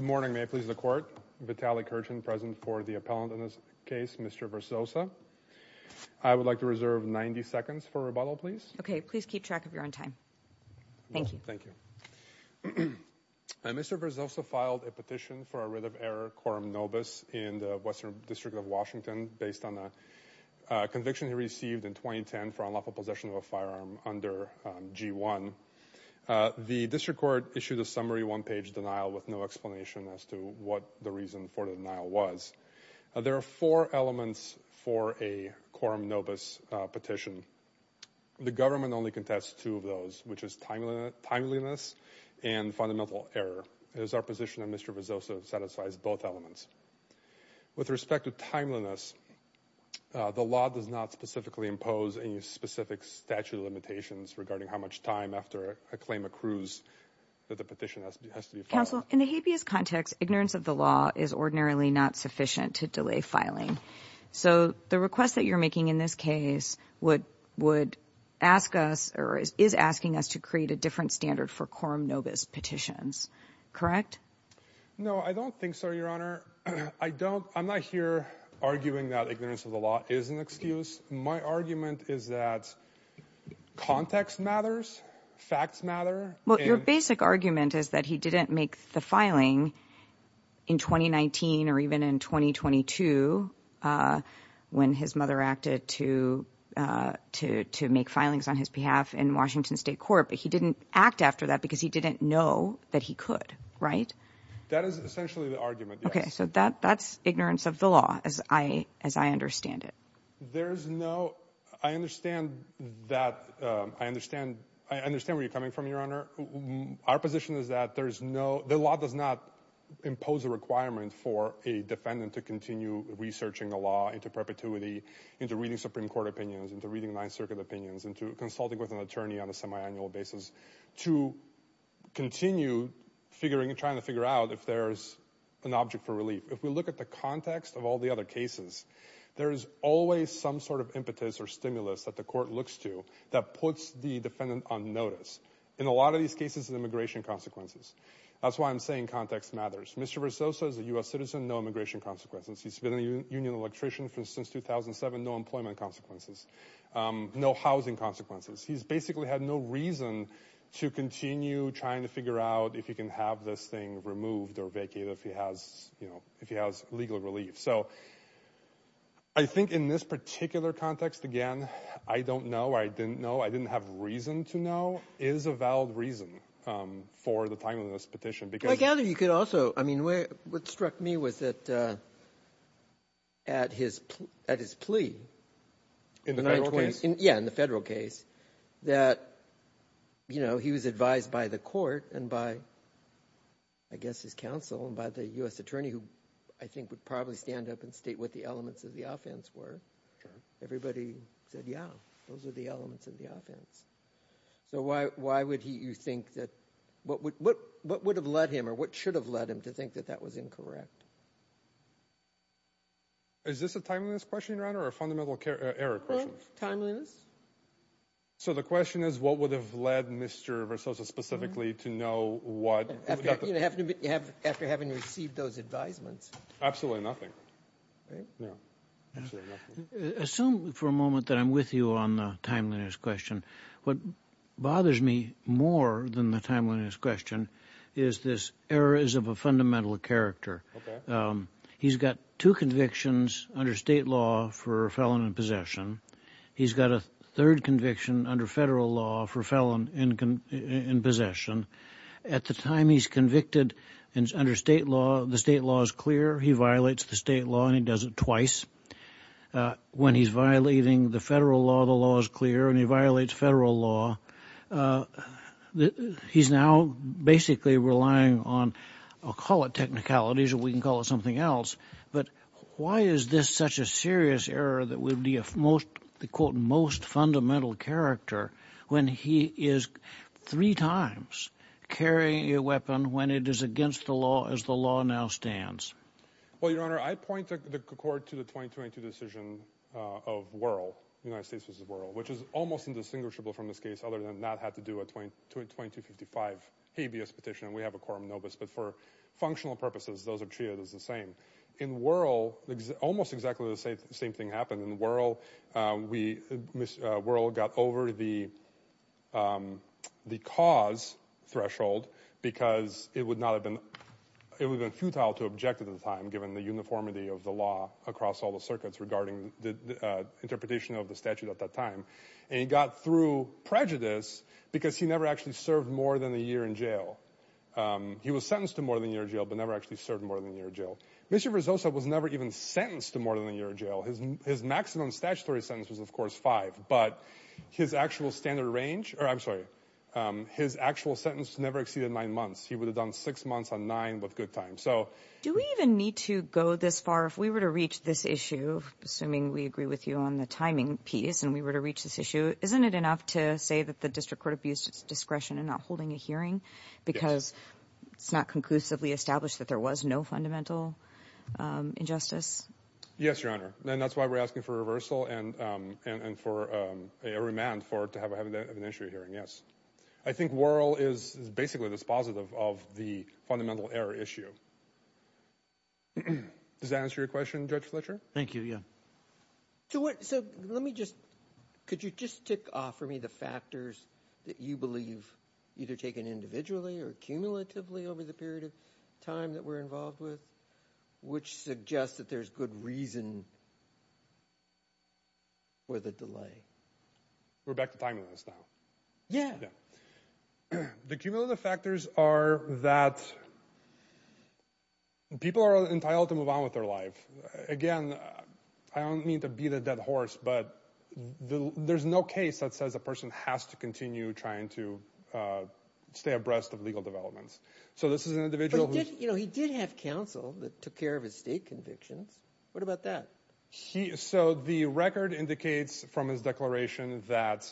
Mr. Verzosa filed a petition for a writ of error, quorum nobis, in the Western District of Washington based on a conviction he received in 2010 for unlawful possession of a firearm under G1. The district court issued a summary one-page denial with no explanation as to what the reason for the denial was. There are four elements for a quorum nobis petition. The government only contests two of those, which is timeliness and fundamental error. It is our position that Mr. Verzosa satisfies both elements. With respect to timeliness, the law does not specifically impose any specific statute of limitations regarding how much time after a claim accrues that the petition has to be filed. Counsel, in the habeas context, ignorance of the law is ordinarily not sufficient to delay filing. So the request that you're making in this case would would ask us or is asking us to create a different standard for quorum nobis petitions, correct? No, I don't think so, Your Honor. I don't, I'm not here arguing that ignorance of the law is an excuse. My argument is that context matters, facts matter. Well, your basic argument is that he didn't make the filing in 2019 or even in 2022 when his mother acted to to to make filings on his behalf in Washington State Court, but he didn't act after that because he didn't know that he could, right? That is essentially the argument. Okay, so that that's ignorance of the law as I as I understand it. There's no, I understand that, I understand, I understand where you're coming from, Your Honor. Our position is that there's no, the law does not impose a requirement for a defendant to continue researching the law into perpetuity, into reading Supreme Court opinions, into reading Ninth Circuit opinions, into consulting with an attorney on a semi-annual basis to continue figuring, trying to figure out if there's an object for relief. If we look at the context of all the other cases, there is always some sort of impetus or stimulus that the court looks to that puts the defendant on notice. In a lot of these cases, immigration consequences. That's why I'm saying context matters. Mr. Versoza is a U.S. citizen, no immigration consequences. He's been a union electrician since 2007, no employment consequences, no housing consequences. He's basically had no reason to continue trying to figure out if he can have this thing removed or vacated if he has, if he has legal relief. So I think in this particular context, again, I don't know, I didn't know, I didn't have reason to know, is a valid reason for the timeliness of this petition. I gather you could also, I mean, what struck me was that at his plea, in the federal case, that he was advised by the court and by, I guess, his counsel and by the U.S. attorney, who I think would probably stand up and state what the elements of the offense were. Everybody said, yeah, those are the elements of the offense. So why would you think that, what would have led him or what should have led him to think that that was incorrect? Is this a timeliness question, Your Honor, or a fundamental error question? Timeliness. So the question is, what would have led Mr. Versoza specifically to know what... After having received those advisements. Absolutely nothing. Assume for a moment that I'm with you on the timeliness question. What bothers me more than the timeliness question is this error is of a fundamental character. He's got two convictions under state law for a felon in possession. He's got a third conviction under federal law for a felon in possession. At the time he's convicted under state law, the state law is clear. He violates the state law and he does it twice. When he's violating the federal law, the law is clear and he violates federal law. He's now basically relying on, I'll call it something else, but why is this such a serious error that would be a most, the quote, most fundamental character when he is three times carrying a weapon when it is against the law as the law now stands? Well, Your Honor, I point the court to the 2022 decision of Wuerl, United States v. Wuerl, which is almost indistinguishable from this case other than not had to do a 2255 habeas petition and we but for functional purposes those are treated as the same. In Wuerl, almost exactly the same thing happened. In Wuerl, Wuerl got over the cause threshold because it would not have been, it would have been futile to object at the time given the uniformity of the law across all the circuits regarding the interpretation of the statute at that time. And he got through prejudice because he never actually served more than a year in jail. He was sentenced to more than a year in jail but never actually served more than a year in jail. Mr. Verzosa was never even sentenced to more than a year in jail. His maximum statutory sentence was of course five, but his actual standard range, or I'm sorry, his actual sentence never exceeded nine months. He would have done six months on nine with good time. So do we even need to go this far if we were to reach this issue, assuming we agree with you on the timing piece, and we were to reach this issue, isn't it enough to say that the district court abused its discretion in not holding a hearing because it's not conclusively established that there was no fundamental injustice? Yes, Your Honor, and that's why we're asking for reversal and for a remand for it to have an initial hearing, yes. I think Wuerl is basically dispositive of the fundamental error issue. Does that answer your question, Judge Fletcher? Thank you, yeah. So what, so let me just, could you just tick off for me the factors that you believe either taken individually or cumulatively over the period of time that we're involved with, which suggests that there's good reason for the delay? We're back to timeliness now. Yeah. The cumulative factors are that people are entitled to move on with their life. Again, I don't mean to beat a dead horse, but there's no case that says a person has to continue trying to stay abreast of legal developments. So this is an individual who, you know, he did have counsel that took care of his state convictions. What about that? He, so the record indicates from his declaration that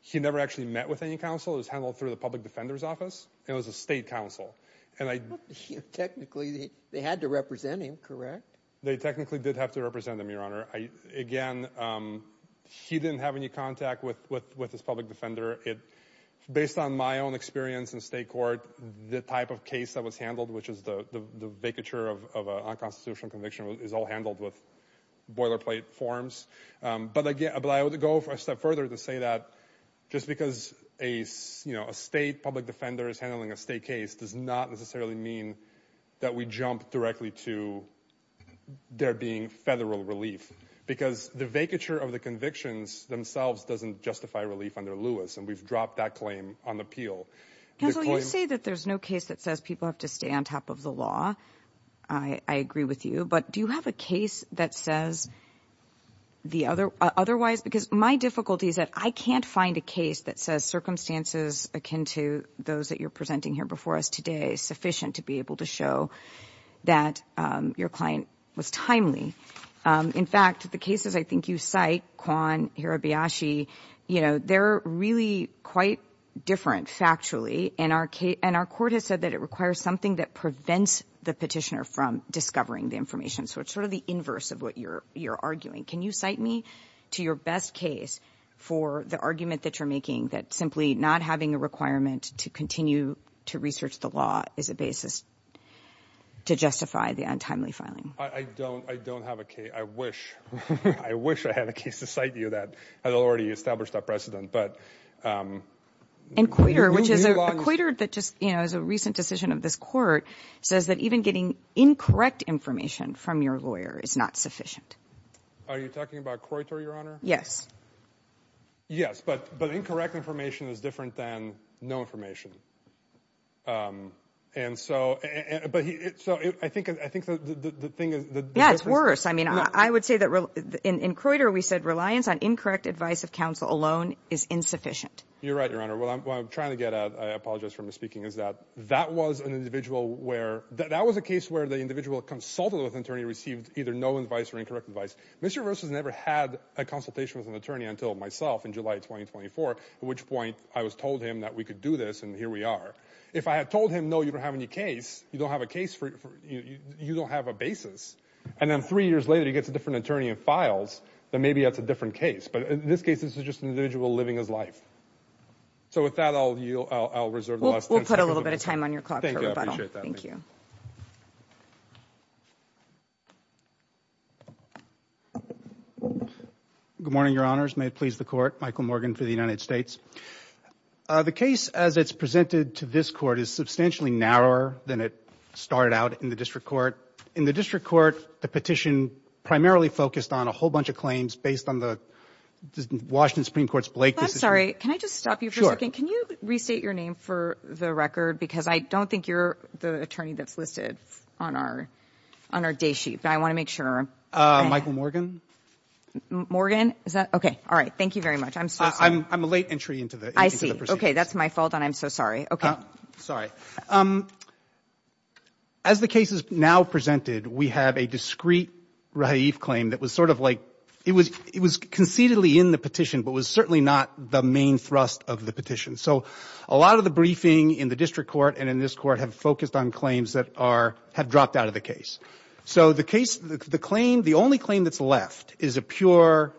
he never actually met with any counsel. It was handled through the public defender's office. It was a state counsel. And I, technically they had to represent him, correct? They technically did have to represent him, Your Honor. I, again, he didn't have any contact with, with, with his public defender. It, based on my own experience in state court, the type of case that was handled, which is the, the vacature of a unconstitutional conviction, is all handled with boilerplate forms. But again, but I would go a step further to say that just because a, you know, a state public defender is handling a state case does not necessarily mean that we jump directly to there being federal relief because the vacature of the convictions themselves doesn't justify relief under Lewis. And we've dropped that claim on the appeal. Counsel, you say that there's no case that says people have to stay on top of the law. I agree with you, but do you have a case that says the other, otherwise, because my difficulty is that I can't find a case that says circumstances akin to those that you're presenting here before us today is sufficient to be able to show that your client was timely. In fact, the cases I think you cite, Kwan, Hirabayashi, you know, they're really quite different factually. And our case, and our court has said that it requires something that prevents the petitioner from discovering the information. So it's sort of inverse of what you're, you're arguing. Can you cite me to your best case for the argument that you're making that simply not having a requirement to continue to research the law is a basis to justify the untimely filing? I don't, I don't have a case. I wish, I wish I had a case to cite you that had already established that precedent, but. And Coyter, which is a Coyter that just, you know, as a recent decision of this court says that even getting incorrect information from your lawyer is not sufficient. Are you talking about Coyter, Your Honor? Yes. Yes, but, but incorrect information is different than no information. And so, but so I think, I think the thing is. Yeah, it's worse. I mean, I would say that in Coyter, we said reliance on incorrect advice of counsel alone is insufficient. You're right, Your Honor. Well, I'm trying to get, I apologize for misspeaking is that that was an individual where, that was a case where the individual consulted with an attorney, received either no advice or incorrect advice. Mr. Rose has never had a consultation with an attorney until myself in July, 2024, at which point I was told him that we could do this. And here we are. If I had told him, no, you don't have any case, you don't have a case for, you don't have a basis. And then three years later, he gets a different attorney and files that maybe that's a different case. But in this case, this is just an individual living his life. So with that, I'll, I'll, I'll reserve the last ten seconds. We'll put a little bit of time on your clock for rebuttal. Thank you. I appreciate that. Thank you. Good morning, Your Honors. May it please the court, Michael Morgan for the United States. The case as it's presented to this court is substantially narrower than it started out in the district court. In the district court, the petition primarily focused on a whole bunch of based on the Washington Supreme Court's Blake decision. I'm sorry. Can I just stop you for a second? Can you restate your name for the record? Because I don't think you're the attorney that's listed on our, on our day sheet. But I want to make sure. Michael Morgan. Morgan. Is that okay? All right. Thank you very much. I'm sorry. I'm a late entry into the proceedings. I see. Okay. That's my fault. And I'm so sorry. Okay. Sorry. As the case is now presented, we have a discreet claim that was sort of like it was, it was concededly in the petition, but was certainly not the main thrust of the petition. So a lot of the briefing in the district court and in this court have focused on claims that are, have dropped out of the case. So the case, the claim, the only claim that's left is a pure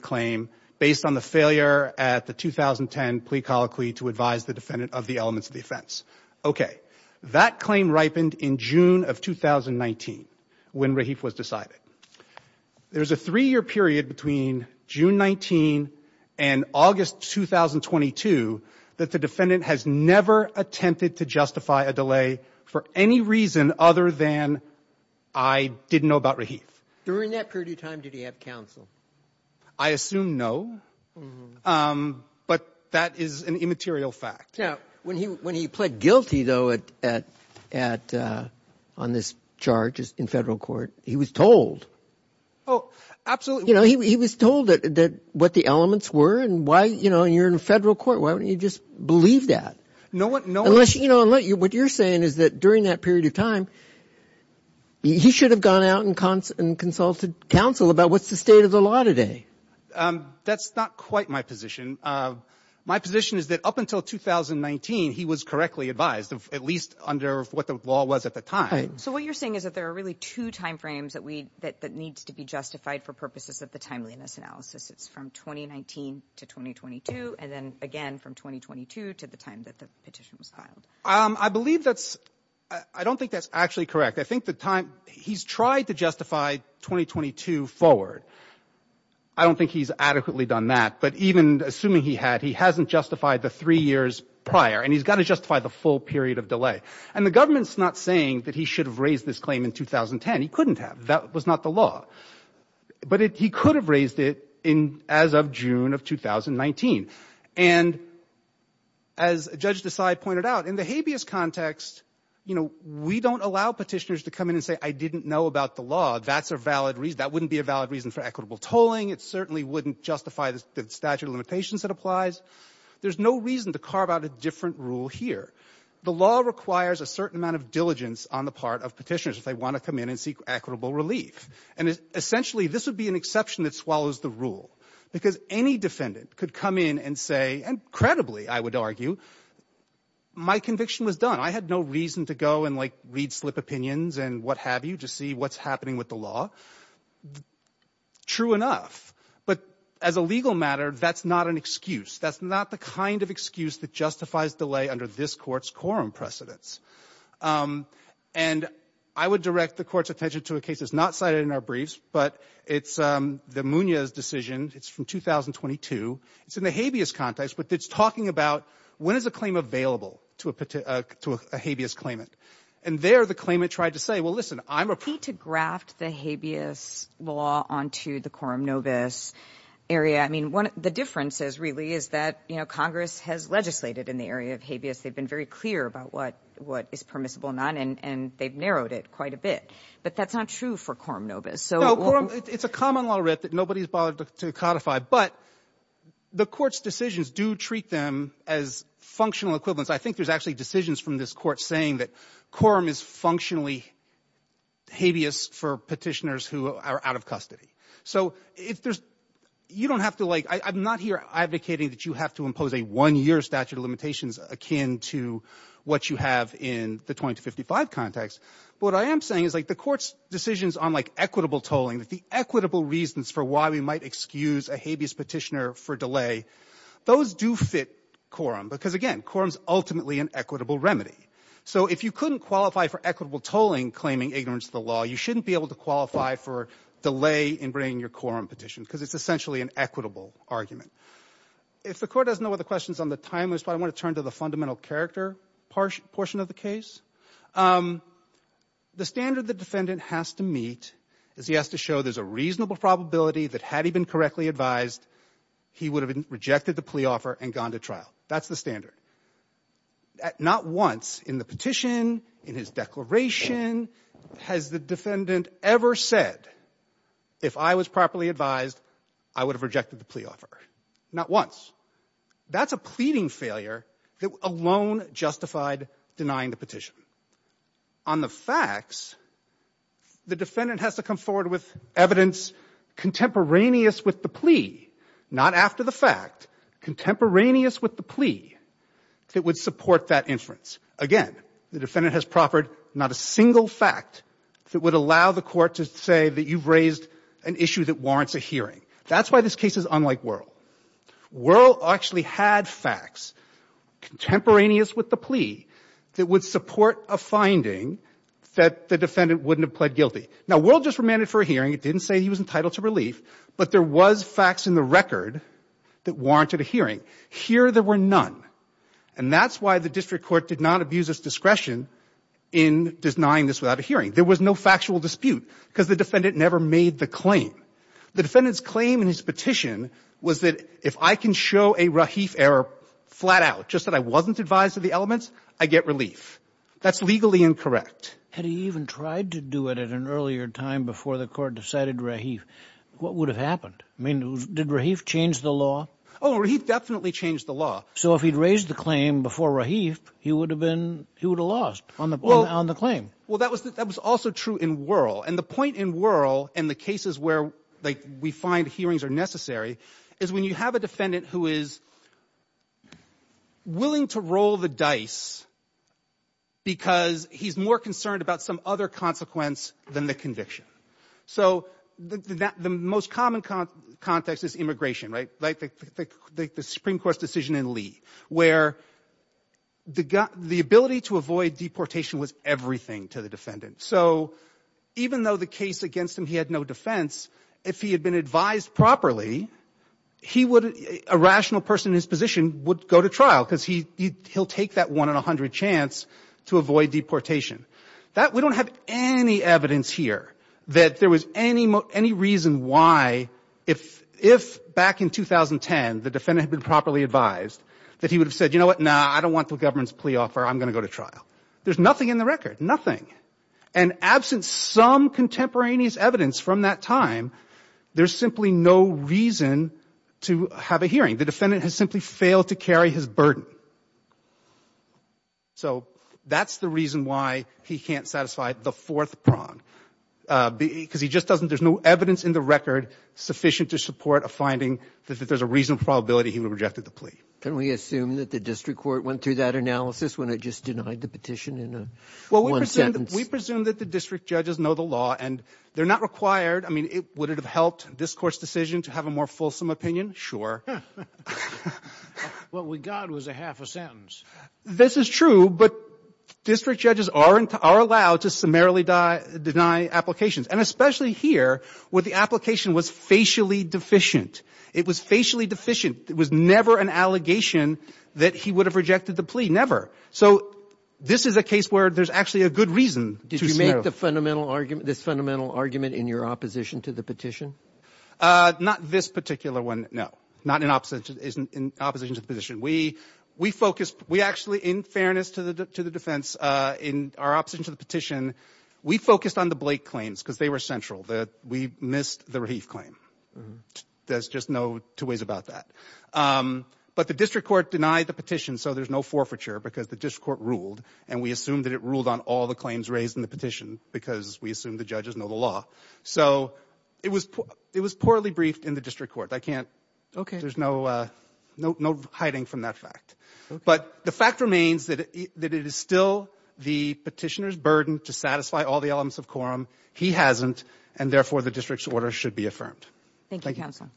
claim based on the failure at the 2010 plea colloquy to advise the defense. Okay. That claim ripened in June of 2019 when Rahif was decided. There's a three year period between June 19 and August, 2022, that the defendant has never attempted to justify a delay for any reason other than I didn't know about Rahif. During that period of time, did he have counsel? I assume no. But that is an immaterial fact. When he, when he pled guilty though, at, at, at, uh, on this charges in federal court, he was told. Oh, absolutely. You know, he, he was told that, that what the elements were and why, you know, you're in a federal court. Why wouldn't you just believe that? No one, no one. Unless, you know, what you're saying is that during that period of time, he should have gone out and consulted counsel about what's the state of the law today. Um, that's not quite my position. Uh, my position is that up until 2019, he was correctly advised, at least under what the law was at the time. So what you're saying is that there are really two timeframes that we, that, that needs to be justified for purposes of the timeliness analysis. It's from 2019 to 2022. And then again, from 2022 to the time that the petition was filed. Um, I believe that's, I don't think that's actually correct. I think the time he's tried to justify 2022 forward. I don't think he's adequately done that, but even assuming he had, he hasn't justified the three years prior and he's got to justify the full period of delay. And the government's not saying that he should have raised this claim in 2010. He couldn't have, that was not the law, but he could have raised it in as of June of 2019. And as Judge Desai pointed out in the habeas context, you know, we don't allow petitioners to come in and say, I didn't know about the law. That's a valid reason. That wouldn't be a valid reason for equitable tolling. It certainly wouldn't justify the statute of limitations that applies. There's no reason to carve out a different rule here. The law requires a certain amount of diligence on the part of petitioners if they want to come in and seek equitable relief. And essentially, this would be an exception that swallows the rule because any defendant could come in and say, and credibly, I would argue, my conviction was done. I had no reason to go and like read slip opinions and what have you, to see what's happening with the law. True enough. But as a legal matter, that's not an excuse. That's not the kind of excuse that justifies delay under this Court's quorum precedence. And I would direct the Court's attention to a case that's not cited in our briefs, but it's the Munoz decision. It's from 2022. It's in the habeas context, but it's talking about when is a claim available to a habeas claimant. And there, the claimant tried to say, well, listen, I'm a... ...to graft the habeas law onto the quorum nobis area. I mean, one of the differences really is that, you know, Congress has legislated in the area of habeas. They've been very clear about what is permissible and not, and they've narrowed it quite a bit. But that's not true for quorum nobis. No, quorum... It's a common law, Rhett, that nobody's bothered to codify. But the Court's decisions do treat them as functional equivalents. I think there's actually decisions from this Court saying that quorum is functionally habeas for petitioners who are out of custody. So if there's... You don't have to, like... I'm not here advocating that you have to impose a one-year statute of limitations akin to what you have in the 20 to 55 context. But what I am saying is, like, the Court's decisions on, like, equitable tolling, that the equitable reasons for why we might excuse a habeas petitioner for delay, those do fit quorum. Because, again, quorum's ultimately an equitable remedy. So if you couldn't qualify for equitable tolling claiming ignorance of the law, you shouldn't be able to qualify for delay in bringing your quorum petition, because it's essentially an equitable argument. If the Court doesn't know what the question is on the timeline, I want to turn to the fundamental character portion of the case. The standard the defendant has to meet is he has to show there's a reasonable probability that had he been correctly advised, he would have rejected the plea offer and gone to trial. That's the standard. Not once in the petition, in his declaration, has the defendant ever said, if I was properly advised, I would have rejected the plea offer. Not once. That's a pleading failure that alone justified denying the petition. On the facts, the defendant has to come forward with evidence contemporaneous with the plea. Not after the fact. Contemporaneous with the plea that would support that inference. Again, the defendant has proffered not a single fact that would allow the Court to say that you've raised an issue that warrants a hearing. That's why this case is unlike Wuerl. Wuerl actually had facts contemporaneous with the plea that would support a finding that the defendant wouldn't have pled guilty. Now, Wuerl just remanded for a hearing. It didn't say he was entitled to relief. But there was facts in the record that warranted a hearing. Here, there were none. And that's why the District Court did not abuse its discretion in denying this without a hearing. There was no factual dispute because the defendant never made the claim. The defendant's claim in his petition was that if I can show a Rahif error flat out, just that I wasn't advised of the elements, I get relief. That's legally incorrect. Had he even tried to do it at an earlier time before the Court decided Rahif? What would have happened? I mean, did Rahif change the law? Oh, Rahif definitely changed the law. So if he'd raised the claim before Rahif, he would have been, he would have lost on the claim. Well, that was also true in Wuerl. And the point in Wuerl and the cases where we find hearings are necessary is when you have a defendant who is willing to roll the dice because he's more concerned about some other consequence than the conviction. So the most common context is immigration, right? Like the Supreme Court's decision in Lee, where the ability to avoid deportation was everything to the defendant. So even though the case against him, he had no defense, if he had been advised properly, a rational person in his position would go to trial because he'll take that one in a hundred chance to avoid deportation. We don't have any evidence here that there was any reason why, if back in 2010, the defendant had been properly advised, that he would have said, you know what? Nah, I don't want the government's plea offer. I'm going to go to trial. There's nothing in the record, nothing. And absent some contemporaneous evidence from that time, there's simply no reason to have a hearing. The defendant has simply failed to carry his burden. So that's the reason why he can't satisfy the fourth prong because he just doesn't, there's no evidence in the record sufficient to support a finding that there's a reasonable probability he would have rejected the plea. Can we assume that the district court went through that analysis when it just denied the petition in one sentence? We presume that the district judges know the law and they're not required. I mean, would it have helped this court's decision to have a more fulsome opinion? Sure. Well, we got was a half a sentence. This is true, but district judges are allowed to summarily deny applications. And especially here, where the application was facially deficient. It was facially deficient. It was never an allegation that he would have rejected the plea, never. So this is a case where there's actually a good reason. Did you make this fundamental argument in your opposition to the petition? Not this particular one, no. Not in opposition to the petition. We actually, in fairness to the defense, in our opposition to the petition, we focused on the Blake claims because they were central. We missed the Rahif claim. There's just no two ways about that. But the district court denied the petition so there's no forfeiture because the district court ruled. And we assumed that it ruled on all the claims raised in the petition because we assume the judges know the law. So it was poorly briefed in the district court. There's no hiding from that fact. But the fact remains that it is still the petitioner's burden to satisfy all the elements of quorum. He hasn't, and therefore the district's order should be affirmed. Thank you, counsel.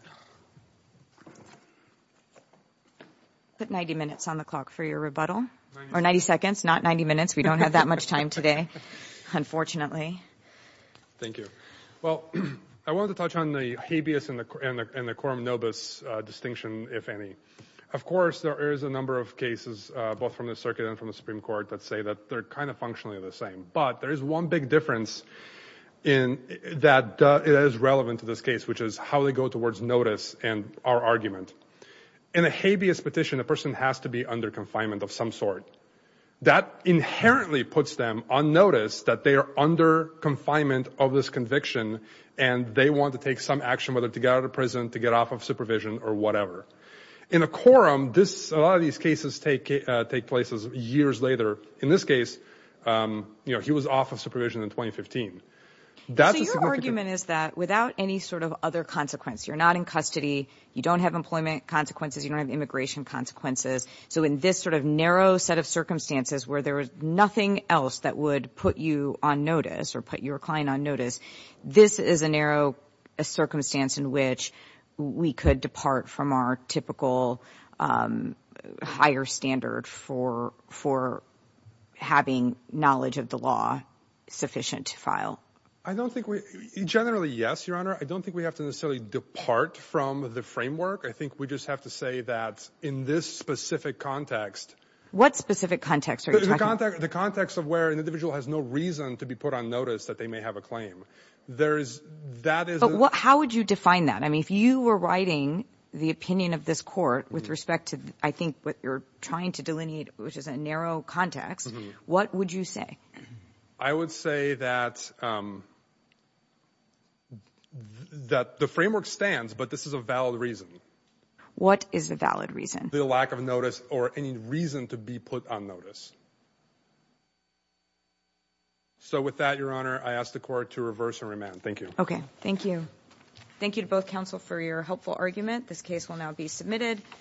Put 90 minutes on the clock for your rebuttal. Or 90 seconds, not 90 minutes. We don't have that much time today, unfortunately. Thank you. Well, I wanted to touch on the habeas and the quorum nobis distinction, if any. Of course, there is a number of cases, both from the circuit and from the Supreme Court, that say that they're kind of functionally the same. But there is one big difference that is relevant to this case, which is how they go towards notice and our argument. In a habeas petition, a person has to be under confinement of some sort. That inherently puts them on notice that they are under confinement of this conviction, and they want to take some action, whether to get out of prison, to get off of supervision, or whatever. In a quorum, a lot of these cases take place years later. In this case, he was off of supervision in 2015. So your argument is that without any sort of other consequence, you're not in custody, you don't have employment consequences, you don't have immigration consequences. So in this sort of narrow set of circumstances where there is nothing else that would put you on notice or put your client on notice, this is a narrow circumstance in which we could depart from our typical higher standard for having knowledge of the law sufficient to file. I don't think we — generally, yes, Your Honor. I don't think we have to necessarily depart from the framework. I think we just have to say that in this specific context — What specific context are you talking about? The context of where an individual has no reason to be put on notice that they may have a claim. There is — that is — How would you define that? I mean, if you were writing the opinion of this court with respect to, I think, what you're trying to delineate, which is a narrow context, what would you say? I would say that the framework stands, but this is a valid reason. What is the valid reason? The lack of notice or any reason to be put on notice. So with that, Your Honor, I ask the court to reverse and remand. Thank you. Okay. Thank you. Thank you to both counsel for your helpful argument. This case will now be submitted.